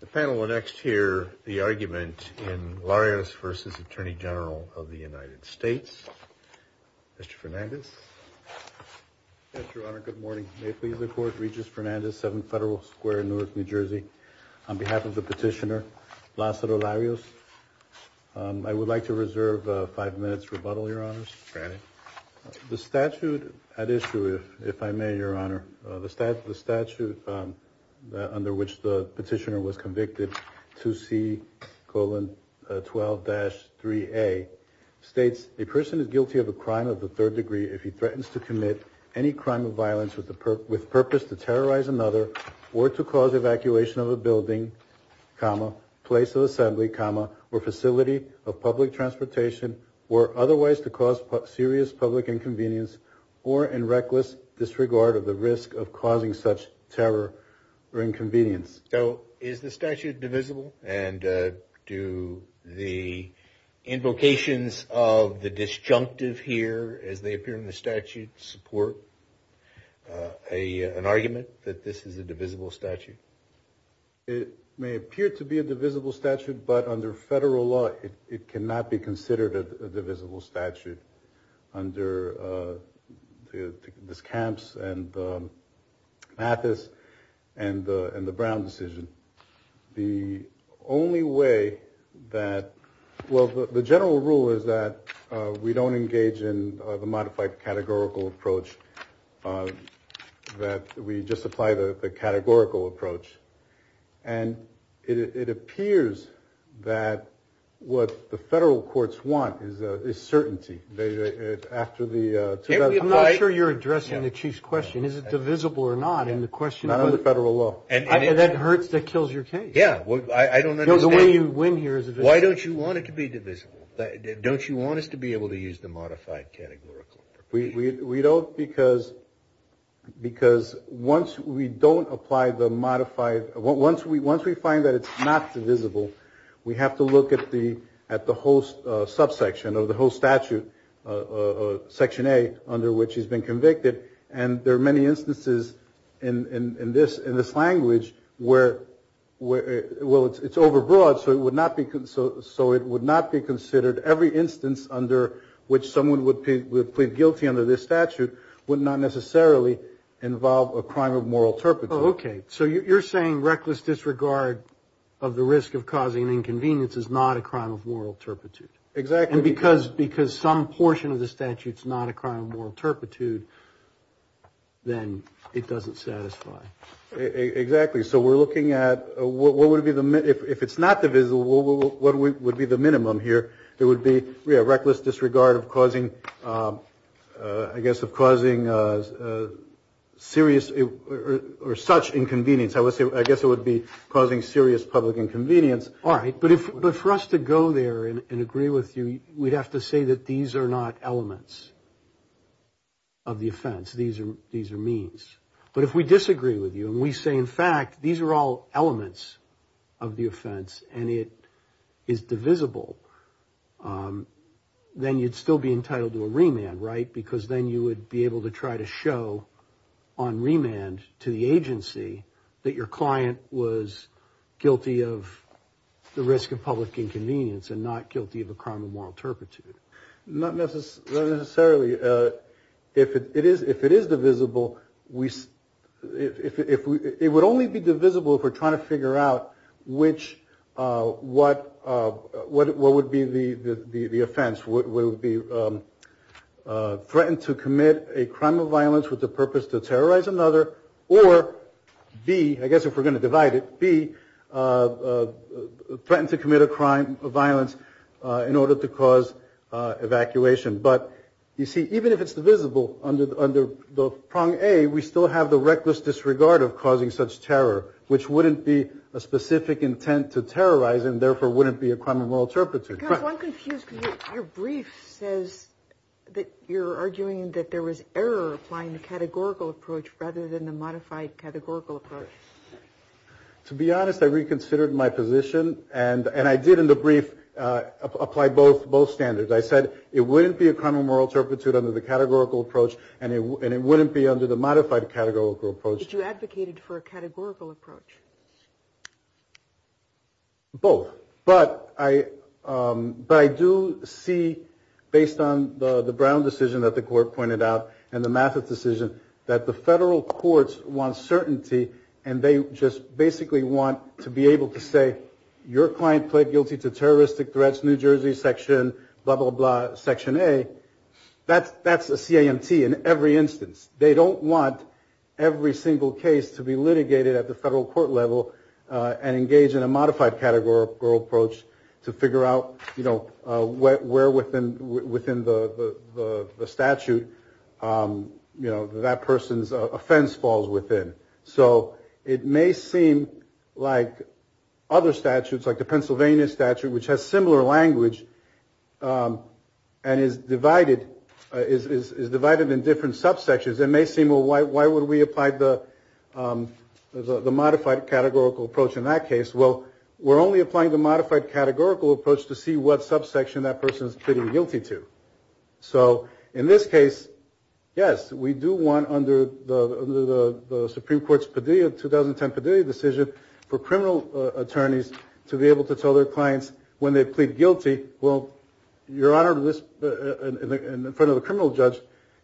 The panel will next hear the argument in Larios v. Atty. Gen. of the United States. Mr. Fernandes. Mr. Honor, good morning. May it please the Court, Regis Fernandes, 7th Federal Square, Newark, New Jersey. On behalf of the petitioner, Lázaro Larios, I would like to reserve five minutes' rebuttal, Your Honors. Granted. The statute at issue, if I may, Your Honor, the statute under which the petitioner was convicted, 2C-12-3A, states, A person is guilty of a crime of the third degree if he threatens to commit any crime of violence with purpose to terrorize another or to cause evacuation of a building, place of assembly, or facility of public transportation or otherwise to cause serious public inconvenience or in reckless disregard of the risk of causing such terror or inconvenience. So is the statute divisible? And do the invocations of the disjunctive here, as they appear in the statute, support an argument that this is a divisible statute? It may appear to be a divisible statute, but under federal law, it cannot be considered a divisible statute under this approach that we just apply the categorical approach. And it appears that what the federal courts want is certainty. I'm not sure you're addressing the Chief's question. Is it divisible or not? Not under federal law. And that hurts, that kills your case. Yeah. The way you win here is divisible. Why don't you want it to be divisible? Don't you want us to be able to use the modified categorical approach? We don't, because once we don't apply the modified, once we find that it's not divisible, we have to look at the whole subsection or the whole statute, Section A, under which he's been convicted. And there are many instances in this language where, well, it's overbroad, so it would not be considered, every instance under which someone would plead guilty under this statute would not necessarily involve a crime of moral turpitude. Oh, okay. So you're saying reckless disregard of the risk of causing an inconvenience is not a crime of moral turpitude. Exactly. And because some portion of the statute's not a crime of moral turpitude, then it doesn't satisfy. Exactly. So we're looking at what would be the, if it's not divisible, what would be the minimum here? It would be reckless disregard of causing, I guess, of causing serious or such inconvenience. I would say, I guess it would be causing serious public inconvenience. All right. But if, but for us to go there and agree with you, we'd have to say that these are not elements of the offense. These are, these are means. But if we disagree with you and we say, in fact, these are all elements of the offense and it is divisible, then you'd still be entitled to a remand, right? Because then you would be able to try to show on remand to the agency that your client was guilty of the risk of public inconvenience and not guilty of a crime of moral turpitude. Not necessarily. If it is, if it is divisible, we, if it would only be divisible if we're trying to figure out which, what, what, what would be the offense? Would it be threatened to commit a crime of violence with the purpose to terrorize another? Or B, I guess if we're going to divide it, B, threatened to commit a crime of violence in order to cause evacuation. But you see, even if it's divisible under the prong A, we still have the reckless disregard of causing such terror, which wouldn't be a specific intent to terrorize and therefore wouldn't be a crime of moral turpitude. Counsel, I'm confused because your brief says that you're arguing that there was error applying the categorical approach rather than the modified categorical approach. To be honest, I reconsidered my position and I did in the brief apply both standards. I said it wouldn't be a crime of moral turpitude under the categorical approach and it wouldn't be under the modified categorical approach. But you advocated for a categorical approach. Both. But I, but I do see, based on the Brown decision that the court pointed out and the Mathis decision, that the federal courts want certainty and they just basically want to be able to say, your client pled guilty to terroristic threats, New Jersey section, blah, blah, blah, section A. That's, that's a CAMT in every instance. They don't want every single case to be litigated at the federal court level and engage in a modified categorical approach to figure out, you know, where within the statute, you know, that person's offense falls within. So it may seem like other statutes, like the Pennsylvania statute, which has similar language and is divided, is divided in different subsections. It may seem, well, why would we apply the modified categorical approach in that case? Well, we're only applying the modified categorical approach to see what subsection that person's pleading guilty to. So in this case, yes, we do want under the Supreme Court's Padilla, 2010 Padilla decision, for criminal attorneys to be able to tell their clients when they plead guilty, well, your Honor, in front of the criminal judge,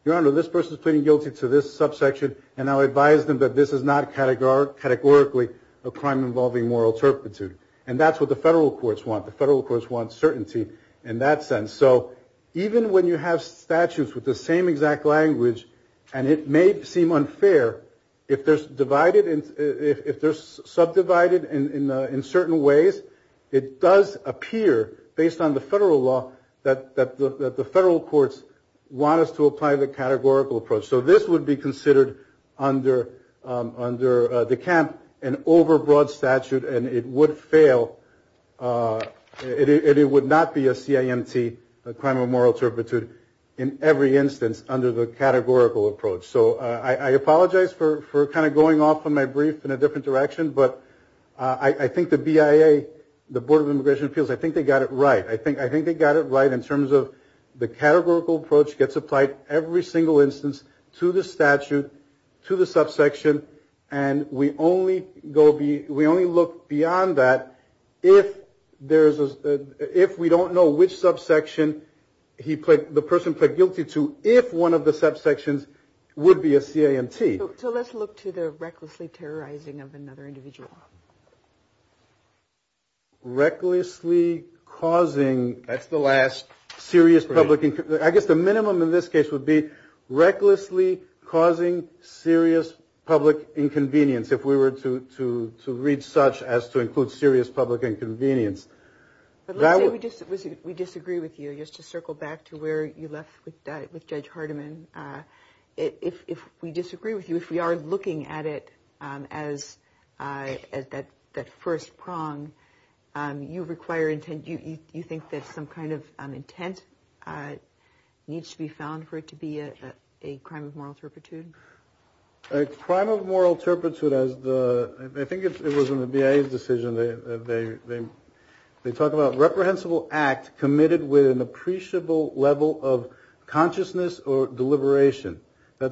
your Honor, this person's pleading guilty to this subsection and I'll advise them that this is not categorically a crime involving moral turpitude. And that's what the federal courts want. The federal courts want certainty in that sense. So even when you have statutes with the same exact language and it may seem unfair, if they're subdivided in certain ways, it does appear, based on the federal law, that the federal courts want us to apply the categorical approach. So this would be considered under the camp an overbroad statute and it would fail. It would not be a CIMT, a crime of moral turpitude, in every instance under the categorical approach. So I apologize for kind of going off on my brief in a different direction, but I think the BIA, the Board of Immigration Appeals, I think they got it right. I think they got it right in terms of the categorical approach gets applied every single instance to the statute, to the subsection, and we only look beyond that if we don't know which subsection the person pled guilty to, if one of the subsections would be a CIMT. So let's look to the recklessly terrorizing of another individual. Recklessly causing. That's the last. Serious public. I guess the minimum in this case would be recklessly causing serious public inconvenience, if we were to read such as to include serious public inconvenience. But let's say we disagree with you, just to circle back to where you left with Judge Hardiman. If we disagree with you, if we are looking at it as that first prong, you require intent, you think that some kind of intent needs to be found for it to be a crime of moral turpitude? A crime of moral turpitude, I think it was in the BIA's decision, they talk about reprehensible act committed with an appreciable level of consciousness or deliberation. I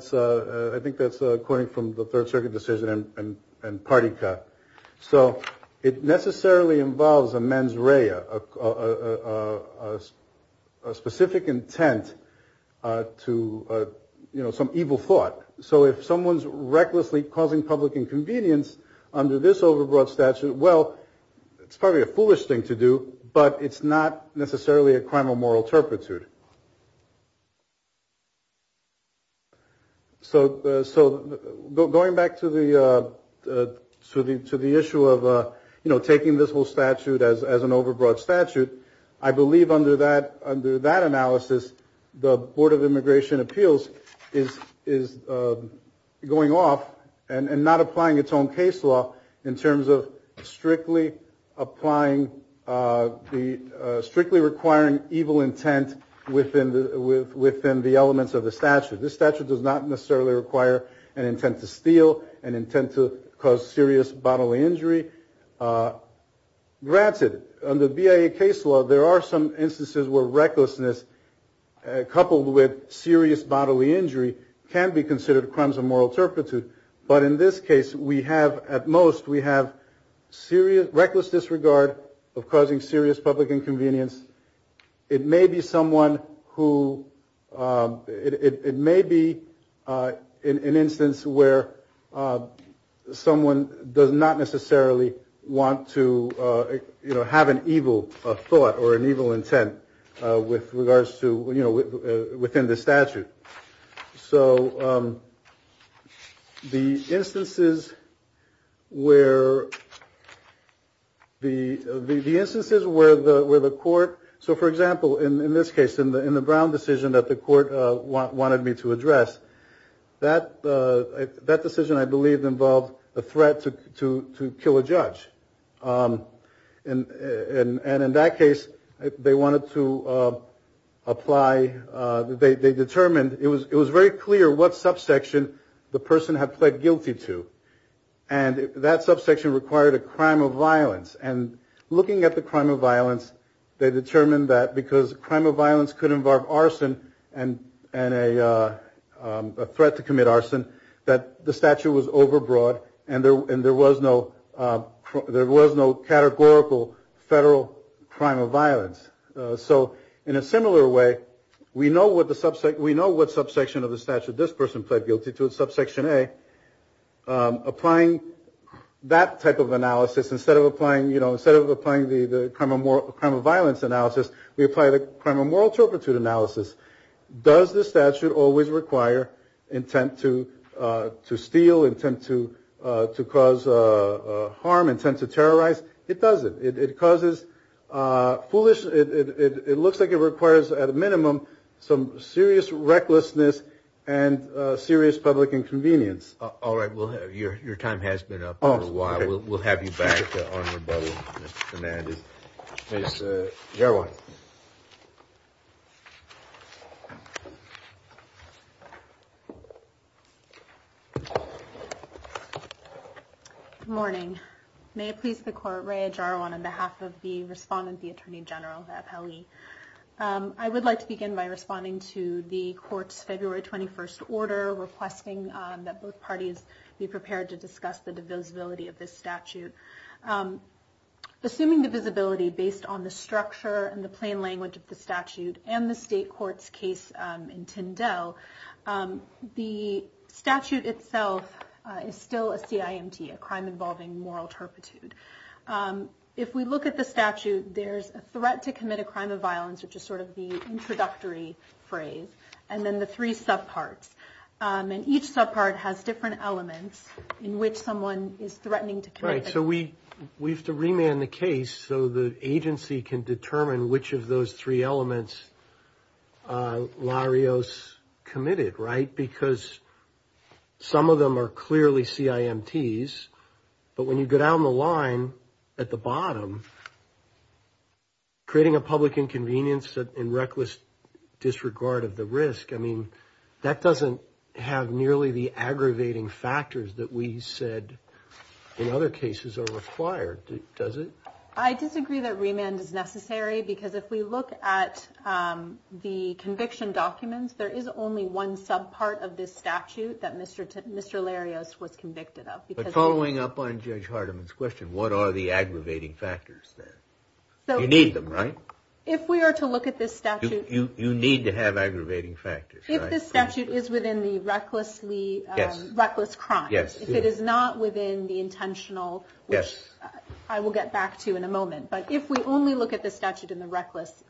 think that's according from the Third Circuit decision and party cut. So it necessarily involves a mens rea, a specific intent to some evil thought. So if someone's recklessly causing public inconvenience under this overbroad statute, well, it's probably a foolish thing to do, but it's not necessarily a crime of moral turpitude. So going back to the issue of taking this whole statute as an overbroad statute, I believe under that analysis, the Board of Immigration Appeals is going off and not applying its own case law in terms of strictly applying, strictly requiring evil intent within the elements of the statute. This statute does not necessarily require an intent to steal, an intent to cause serious bodily injury. Granted, under BIA case law, there are some instances where recklessness coupled with serious bodily injury can be considered crimes of moral turpitude. But in this case, we have at most, we have reckless disregard of causing serious public inconvenience. It may be someone who, it may be an instance where someone does not necessarily want to, you know, have an evil thought or an evil intent with regards to, you know, within the statute. So the instances where the court, so for example, in this case, in the Brown decision that the court wanted me to address, that decision, I believe, involved a threat to kill a judge. And in that case, they wanted to apply, they determined, it was very clear what subsection the person had pled guilty to. And that subsection required a crime of violence. And looking at the crime of violence, they determined that because crime of violence could involve arson and a threat to commit arson, that the statute was overbroad and there was no categorical federal crime of violence. So in a similar way, we know what subsection of the statute this person pled guilty to, subsection A. Applying that type of analysis, instead of applying the crime of violence analysis, we apply the crime of moral turpitude analysis. Does the statute always require intent to steal, intent to cause harm, intent to terrorize? It doesn't. It causes foolish, it looks like it requires, at a minimum, some serious recklessness and serious public inconvenience. All right. Your time has been up for a while. We'll have you back on rebuttal, Mr. Hernandez. Ms. Jarwan. Good morning. May it please the Court, Rea Jarwan, on behalf of the respondent, the Attorney General of FLE. I would like to begin by responding to the Court's February 21st order, requesting that both parties be prepared to discuss the divisibility of this statute. Assuming divisibility based on the structure and the plain language of the statute and the State Court's case in Tyndale, the statute itself is still a CIMT, a crime involving moral turpitude. If we look at the statute, there's a threat to commit a crime of violence, which is sort of the introductory phrase, and then the three subparts. And each subpart has different elements in which someone is threatening to commit a crime. All right. So we have to remand the case so the agency can determine which of those three elements Larios committed, right? Because some of them are clearly CIMTs, but when you go down the line at the bottom, creating a public inconvenience in reckless disregard of the risk, I mean, that doesn't have nearly the aggravating factors that we said in other cases are required, does it? I disagree that remand is necessary because if we look at the conviction documents, there is only one subpart of this statute that Mr. Larios was convicted of. But following up on Judge Hardiman's question, what are the aggravating factors there? You need them, right? If we are to look at this statute- You need to have aggravating factors, right? If this statute is within the reckless crimes, if it is not within the intentional, which I will get back to in a moment, but if we only look at the statute in the reckless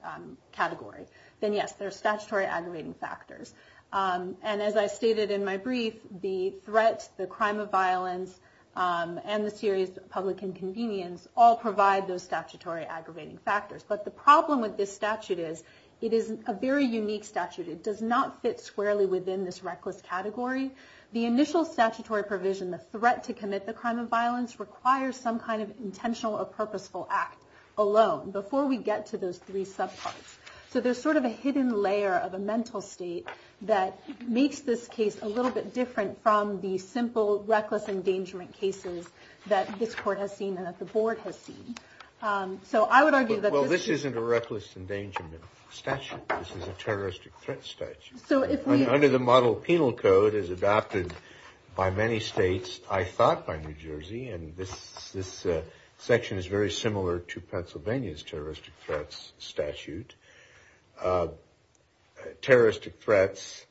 category, then yes, there are statutory aggravating factors. And as I stated in my brief, the threat, the crime of violence, and the serious public inconvenience all provide those statutory aggravating factors. But the problem with this statute is it is a very unique statute. It does not fit squarely within this reckless category. The initial statutory provision, the threat to commit the crime of violence, requires some kind of intentional or purposeful act alone before we get to those three subparts. So there's sort of a hidden layer of a mental state that makes this case a little bit different from the simple reckless endangerment cases that this court has seen and that the board has seen. So I would argue that- This isn't a reckless endangerment statute. This is a terroristic threat statute. Under the model of penal code, it is adopted by many states, I thought by New Jersey, and this section is very similar to Pennsylvania's terroristic threats statute. Terroristic threats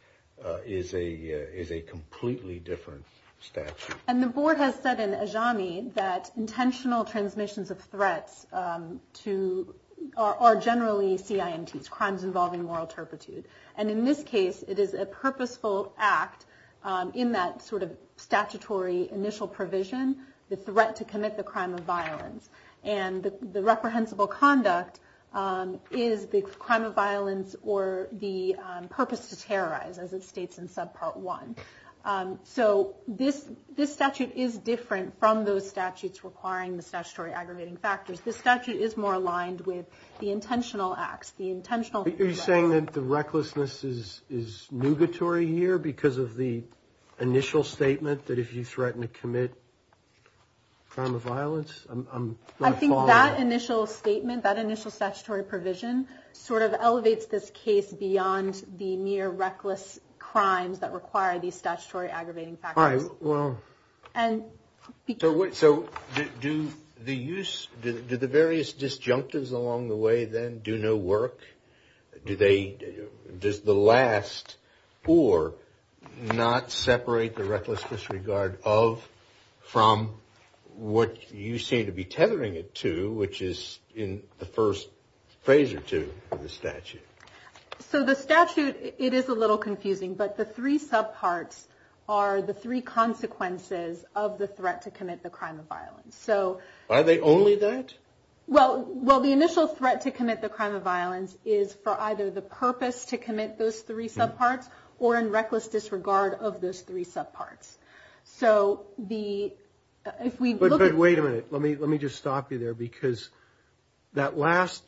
is a completely different statute. And the board has said in Ajami that intentional transmissions of threats are generally CIMTs, crimes involving moral turpitude. And in this case, it is a purposeful act in that sort of statutory initial provision, the threat to commit the crime of violence. And the reprehensible conduct is the crime of violence or the purpose to terrorize, as it states in subpart one. So this statute is different from those statutes requiring the statutory aggravating factors. This statute is more aligned with the intentional acts, the intentional- Are you saying that the recklessness is nugatory here because of the initial statement that if you threaten to commit crime of violence, I'm going to fall in that? I think that initial statement, that initial statutory provision sort of elevates this case beyond the mere reckless crimes that require these statutory aggravating factors. So do the various disjunctives along the way then do no work? Does the last or not separate the reckless disregard of from what you seem to be tethering it to, which is in the first phase or two of the statute? So the statute, it is a little confusing, but the three subparts are the three consequences of the threat to commit the crime of violence. Are they only that? Well, the initial threat to commit the crime of violence is for either the purpose to commit those three subparts or in reckless disregard of those three subparts. But wait a minute. Let me just stop you there because that last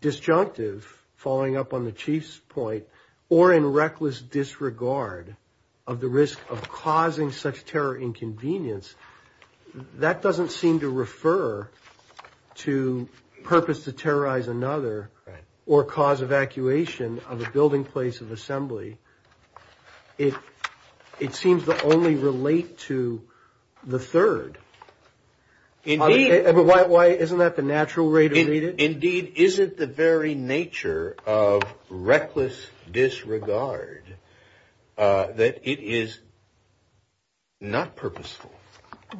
disjunctive following up on the chief's point or in reckless disregard of the risk of causing such terror inconvenience, that doesn't seem to refer to purpose to terrorize another or cause evacuation of a building place of assembly. It it seems to only relate to the third. Indeed. Why? Isn't that the natural way to read it? Indeed. Isn't the very nature of reckless disregard that it is. Not purposeful,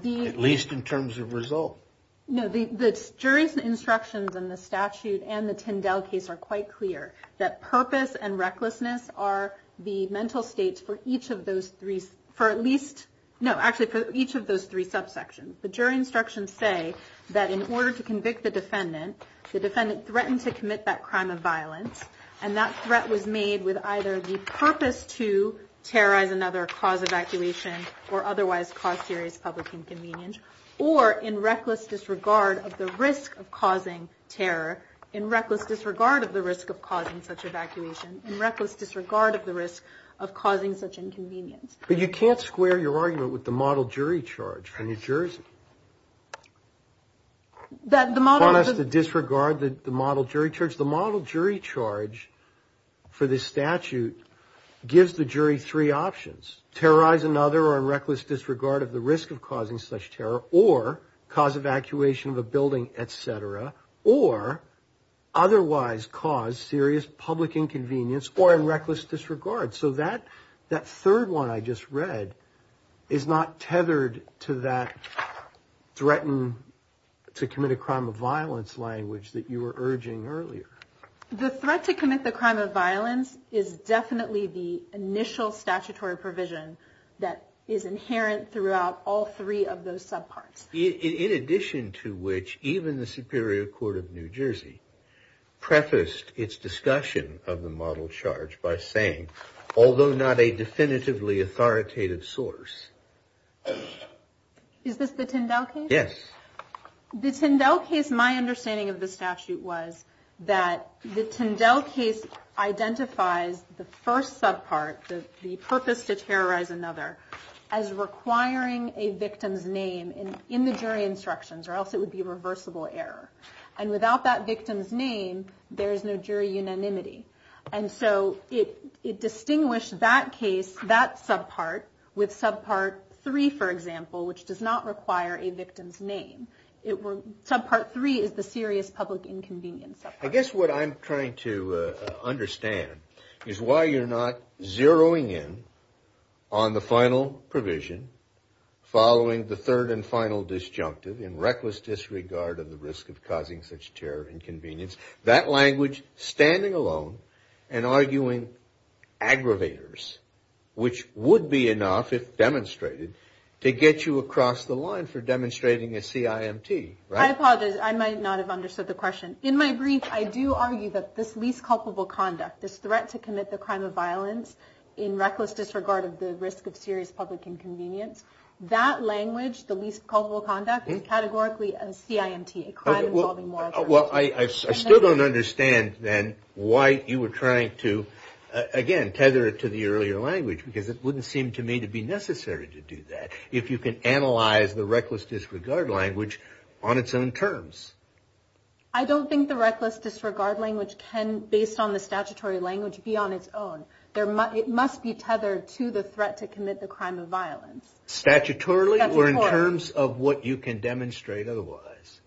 at least in terms of result. No, the jury's instructions in the statute and the Tyndale case are quite clear that purpose and recklessness are the mental states for each of those three, for at least, no, actually for each of those three subsections. The jury instructions say that in order to convict the defendant, the defendant threatened to commit that crime of violence. And that threat was made with either the purpose to terrorize another cause evacuation or otherwise cause serious public inconvenience or in reckless disregard of the risk of causing terror, in reckless disregard of the risk of causing such evacuation, in reckless disregard of the risk of causing such inconvenience. But you can't square your argument with the model jury charge for New Jersey. That the model. Want us to disregard the model jury charge. The model jury charge for this statute gives the jury three options, terrorize another or reckless disregard of the risk of causing such terror or cause evacuation of a building, et cetera, or otherwise cause serious public inconvenience or in reckless disregard. So that that third one I just read is not tethered to that threatened to commit a crime of violence language that you were urging earlier. The threat to commit the crime of violence is definitely the initial statutory provision that is inherent throughout all three of those subparts. In addition to which, even the Superior Court of New Jersey prefaced its discussion of the model charge by saying, although not a definitively authoritative source. Is this the Tindall case? Yes. The Tindall case, my understanding of the statute was that the Tindall case identifies the first subpart, the purpose to terrorize another as requiring a victim's name in the jury instructions or else it would be reversible error. And without that victim's name, there is no jury unanimity. And so it distinguished that case, that subpart with subpart three, for example, which does not require a victim's name. Subpart three is the serious public inconvenience. I guess what I'm trying to understand is why you're not zeroing in on the final provision following the third and final disjunctive in reckless disregard of the risk of causing such terror inconvenience. That language, standing alone and arguing aggravators, which would be enough if demonstrated, to get you across the line for demonstrating a CIMT, right? I apologize. I might not have understood the question. In my brief, I do argue that this least culpable conduct, this threat to commit the crime of violence in reckless disregard of the risk of serious public inconvenience, that language, the least culpable conduct, is categorically a CIMT, Well, I still don't understand, then, why you were trying to, again, tether it to the earlier language, because it wouldn't seem to me to be necessary to do that, if you can analyze the reckless disregard language on its own terms. I don't think the reckless disregard language can, based on the statutory language, be on its own. It must be tethered to the threat to commit the crime of violence. Statutorily or in terms of what you can demonstrate otherwise?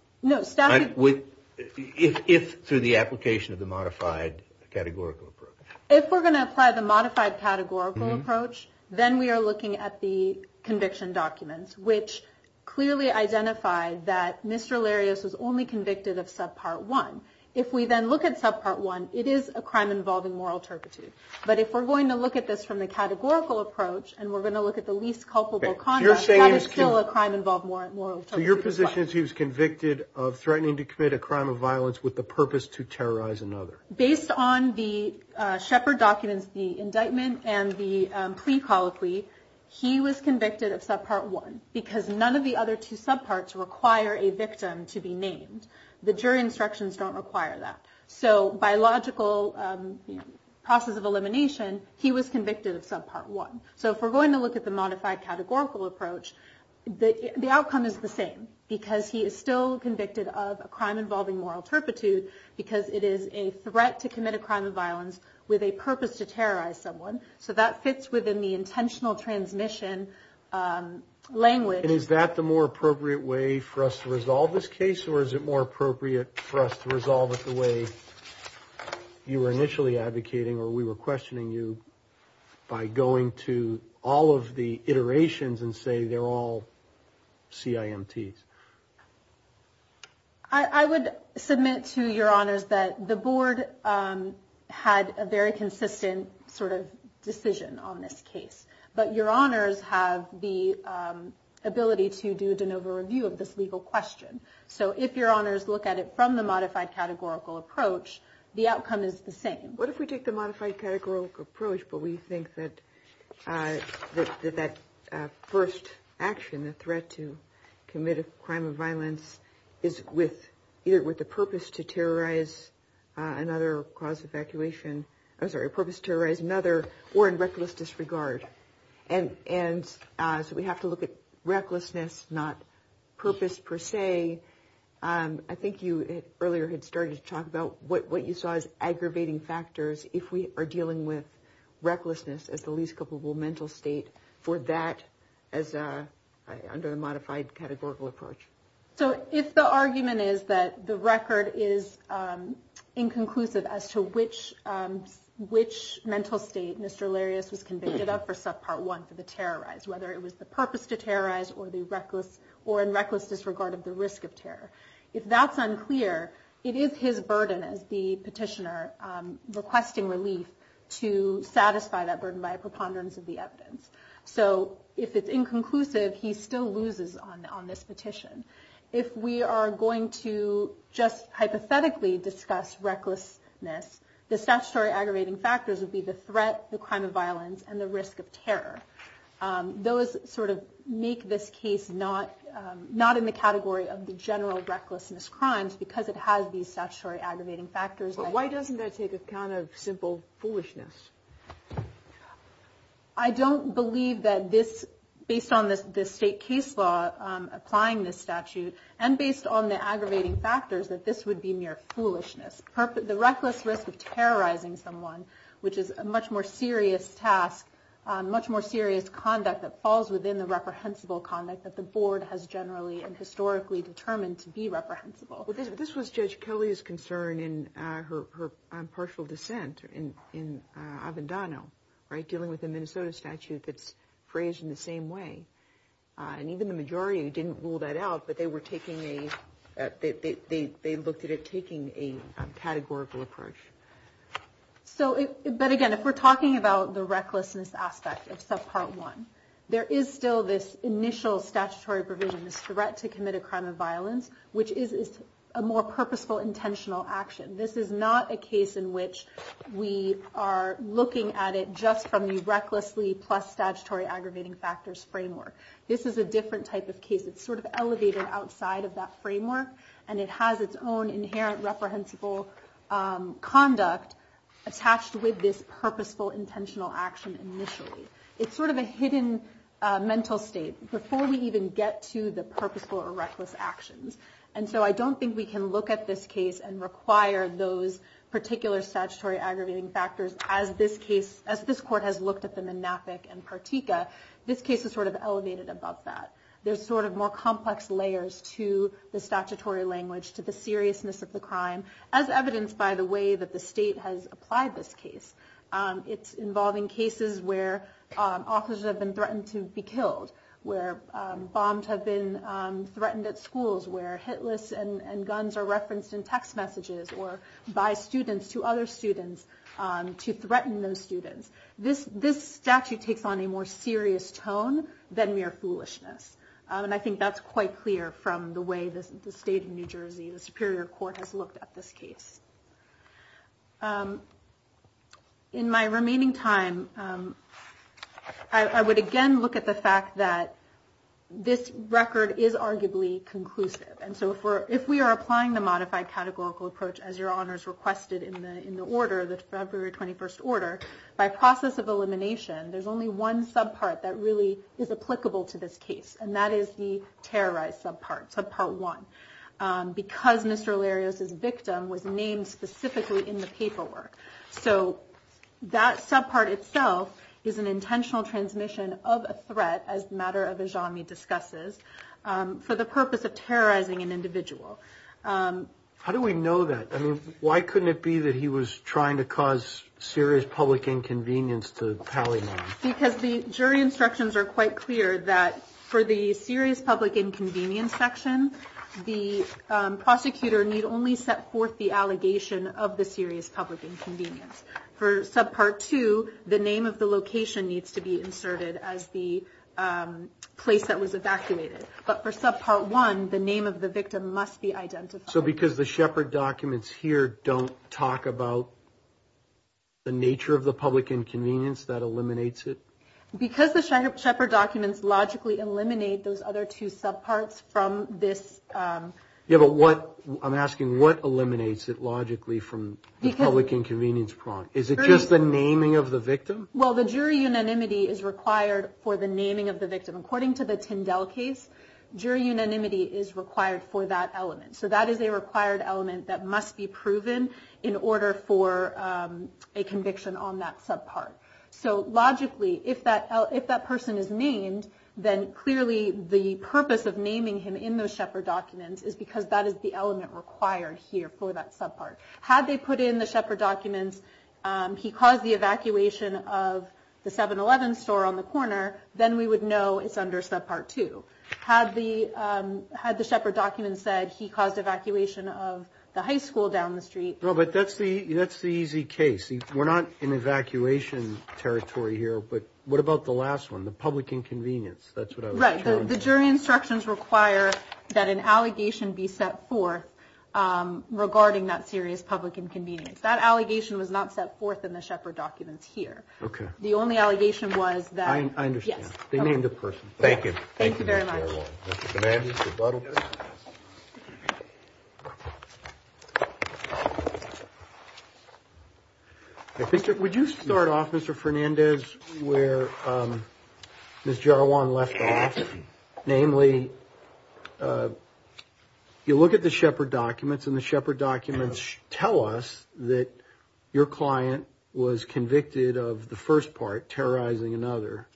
If through the application of the modified categorical approach. If we're going to apply the modified categorical approach, then we are looking at the conviction documents, which clearly identify that Mr. Larius was only convicted of subpart one. If we then look at subpart one, it is a crime involving moral turpitude. But if we're going to look at this from the categorical approach, and we're going to look at the least culpable conduct, that is still a crime involving moral turpitude. So your position is he was convicted of threatening to commit a crime of violence with the purpose to terrorize another? Based on the Shepard documents, the indictment, and the plea colloquy, he was convicted of subpart one, because none of the other two subparts require a victim to be named. The jury instructions don't require that. So by logical process of elimination, he was convicted of subpart one. So if we're going to look at the modified categorical approach, the outcome is the same, because he is still convicted of a crime involving moral turpitude, because it is a threat to commit a crime of violence with a purpose to terrorize someone. So that fits within the intentional transmission language. And is that the more appropriate way for us to resolve this case, or is it more appropriate for us to resolve it the way you were initially advocating, or we were questioning you by going to all of the iterations and say they're all CIMTs? I would submit to your honors that the board had a very consistent sort of decision on this case. But your honors have the ability to do a de novo review of this legal question. So if your honors look at it from the modified categorical approach, the outcome is the same. What if we take the modified categorical approach, but we think that that first action, the threat to commit a crime of violence, is either with the purpose to terrorize another or in reckless disregard. And so we have to look at recklessness, not purpose per se. I think you earlier had started to talk about what you saw as aggravating factors if we are dealing with recklessness as the least culpable mental state for that, as under the modified categorical approach. So if the argument is that the record is inconclusive as to which mental state Mr. Larius was convicted of for subpart one for the terrorize, whether it was the purpose to terrorize or in reckless disregard of the risk of terror. If that's unclear, it is his burden as the petitioner requesting relief to satisfy that burden by a preponderance of the evidence. So if it's inconclusive, he still loses on this petition. If we are going to just hypothetically discuss recklessness, the statutory aggravating factors would be the threat, the crime of violence, and the risk of terror. Those sort of make this case not in the category of the general recklessness crimes because it has these statutory aggravating factors. But why doesn't that take account of simple foolishness? I don't believe that this, based on the state case law applying this statute and based on the aggravating factors, that this would be mere foolishness. The reckless risk of terrorizing someone, which is a much more serious task, much more serious conduct that falls within the reprehensible conduct that the board has generally and historically determined to be reprehensible. But this was Judge Kelly's concern in her partial dissent in Avendano, dealing with a Minnesota statute that's phrased in the same way. And even the majority didn't rule that out, but they looked at it taking a categorical approach. But again, if we're talking about the recklessness aspect of subpart one, there is still this initial statutory provision, this threat to commit a crime of violence, which is a more purposeful, intentional action. This is not a case in which we are looking at it just from the recklessly plus statutory aggravating factors framework. This is a different type of case. It's sort of elevated outside of that framework, and it has its own inherent reprehensible conduct attached with this purposeful, intentional action initially. It's sort of a hidden mental state before we even get to the purposeful or reckless actions. And so I don't think we can look at this case and require those particular statutory aggravating factors as this court has looked at them in NAPIC and Partika. This case is sort of elevated above that. There's sort of more complex layers to the statutory language, to the seriousness of the crime, as evidenced by the way that the state has applied this case. It's involving cases where officers have been threatened to be killed, where bombs have been threatened at schools, where hit lists and guns are referenced in text messages or by students to other students to threaten those students. This statute takes on a more serious tone than mere foolishness. And I think that's quite clear from the way the state of New Jersey, the Superior Court, has looked at this case. In my remaining time, I would again look at the fact that this record is arguably conclusive. And so if we are applying the modified categorical approach, as Your Honors requested in the order, the February 21st order, by process of elimination, there's only one subpart that really is applicable to this case, and that is the terrorized subpart, subpart one, because Mr. Larios' victim was named specifically in the paperwork. So that subpart itself is an intentional transmission of a threat, as the matter of Ajami discusses, for the purpose of terrorizing an individual. How do we know that? I mean, why couldn't it be that he was trying to cause serious public inconvenience to Pally Mann? Because the jury instructions are quite clear that for the serious public inconvenience section, the prosecutor need only set forth the allegation of the serious public inconvenience. For subpart two, the name of the location needs to be inserted as the place that was evacuated. But for subpart one, the name of the victim must be identified. So because the Shepard documents here don't talk about the nature of the public inconvenience, that eliminates it? Because the Shepard documents logically eliminate those other two subparts from this. Yeah, but what, I'm asking, what eliminates it logically from the public inconvenience prompt? Is it just the naming of the victim? Well, the jury unanimity is required for the naming of the victim. According to the Tyndall case, jury unanimity is required for that element. So that is a required element that must be proven in order for a conviction on that subpart. So logically, if that person is named, then clearly the purpose of naming him in those Shepard documents is because that is the element required here for that subpart. Had they put in the Shepard documents, he caused the evacuation of the 7-Eleven store on the corner, then we would know it's under subpart two. Had the Shepard documents said he caused evacuation of the high school down the street... No, but that's the easy case. We're not in evacuation territory here, but what about the last one, the public inconvenience? Right, the jury instructions require that an allegation be set forth regarding that serious public inconvenience. That allegation was not set forth in the Shepard documents here. Okay. The only allegation was that... I understand. Yes. Thank you. Thank you very much. Mr. Fernandez, rebuttal. Would you start off, Mr. Fernandez, where Ms. Jarwan left off? Namely, you look at the Shepard documents, and the Shepard documents tell us that your client was convicted of the first part, terrorizing another,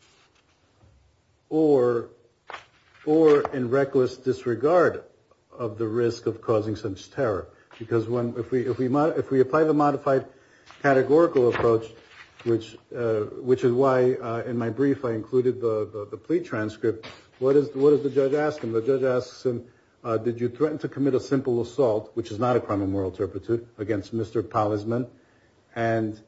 or in reckless disregard of the risk of causing such terror. Because if we apply the modified categorical approach, which is why in my brief I included the plea transcript, what does the judge ask him? The judge asks him, did you threaten to commit a simple assault, which is not a crime of moral turpitude, against Mr. Polizman, and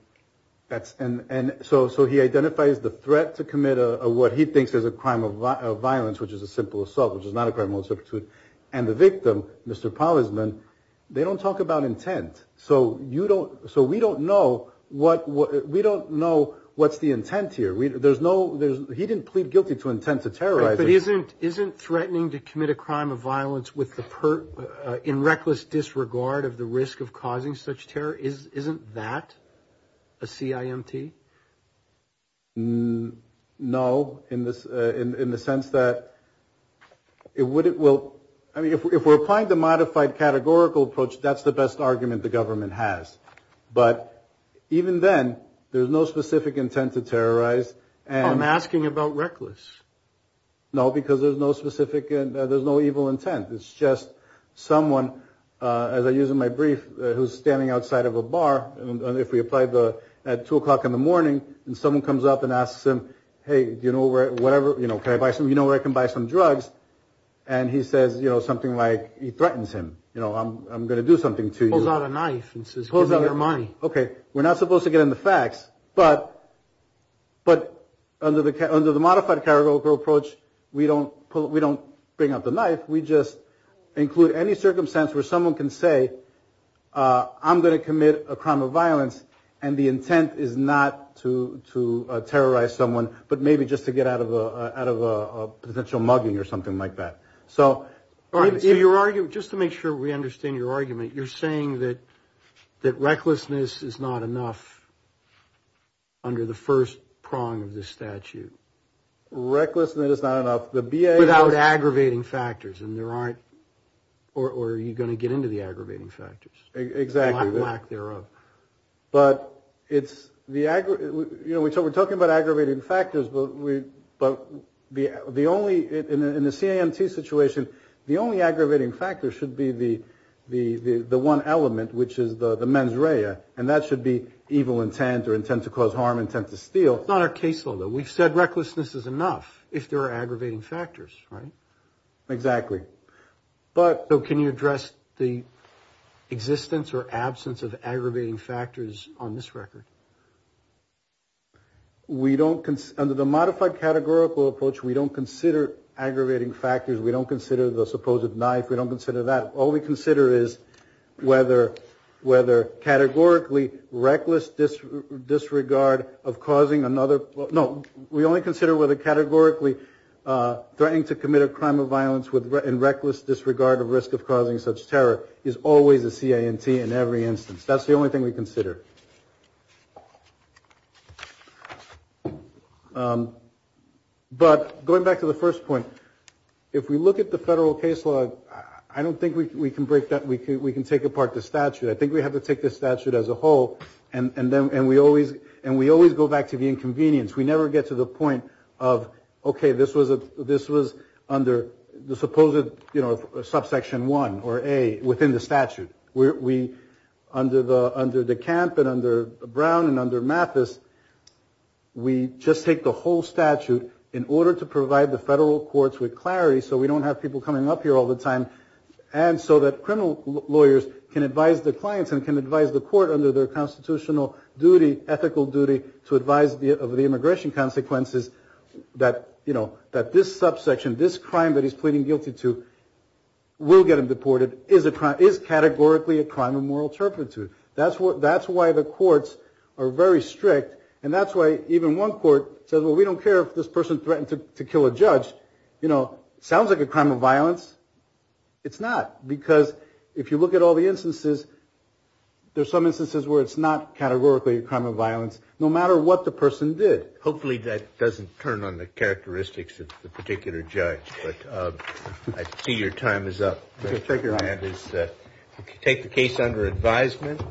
so he identifies the threat to commit what he thinks is a crime of violence, which is a simple assault, which is not a crime of moral turpitude, and the victim, Mr. Polizman, they don't talk about intent. So we don't know what's the intent here. He didn't plead guilty to intent to terrorize. But isn't threatening to commit a crime of violence in reckless disregard of the risk of causing such terror, isn't that a CIMT? No, in the sense that it would it will, I mean, if we're applying the modified categorical approach, that's the best argument the government has. But even then, there's no specific intent to terrorize. I'm asking about reckless. No, because there's no specific, there's no evil intent. It's just someone, as I use in my brief, who's standing outside of a bar, and if we apply at 2 o'clock in the morning and someone comes up and asks him, hey, do you know where, whatever, you know, can I buy some, you know where I can buy some drugs? And he says, you know, something like, he threatens him, you know, I'm going to do something to you. Pulls out a knife and says, give me your money. Okay, we're not supposed to get into facts, but under the modified categorical approach, we don't bring up the knife. We just include any circumstance where someone can say, I'm going to commit a crime of violence, and the intent is not to terrorize someone, but maybe just to get out of a potential mugging or something like that. All right, so your argument, just to make sure we understand your argument, you're saying that recklessness is not enough under the first prong of this statute? Recklessness is not enough. Without aggravating factors, and there aren't, or are you going to get into the aggravating factors? Exactly. Lack thereof. But it's the, you know, we're talking about aggravating factors, but the only, in the CAMT situation, the only aggravating factor should be the one element, which is the mens rea, and that should be evil intent or intent to cause harm, intent to steal. It's not our case law, though. We've said recklessness is enough if there are aggravating factors, right? Exactly. So can you address the existence or absence of aggravating factors on this record? We don't, under the modified categorical approach, we don't consider aggravating factors. We don't consider the supposed knife. We don't consider that. All we consider is whether categorically reckless disregard of causing another, no, we only consider whether categorically threatening to commit a crime of violence in reckless disregard of risk of causing such terror is always a CAMT in every instance. That's the only thing we consider. But going back to the first point, if we look at the federal case law, I don't think we can break that, we can take apart the statute. I think we have to take the statute as a whole, and we always go back to the inconvenience. We never get to the point of, okay, this was under the supposed subsection 1 or A within the statute. We, under the CAMT and under Brown and under Mathis, we just take the whole statute in order to provide the federal courts with clarity so we don't have people coming up here all the time, and so that criminal lawyers can advise their clients and can advise the court under their constitutional duty, to advise of the immigration consequences that, you know, that this subsection, this crime that he's pleading guilty to will get him deported is categorically a crime of moral turpitude. That's why the courts are very strict, and that's why even one court says, well, we don't care if this person threatened to kill a judge. You know, sounds like a crime of violence. It's not, because if you look at all the instances, there's some instances where it's not categorically a crime of violence, no matter what the person did. Hopefully that doesn't turn on the characteristics of the particular judge, but I see your time is up. Take the case under advisement.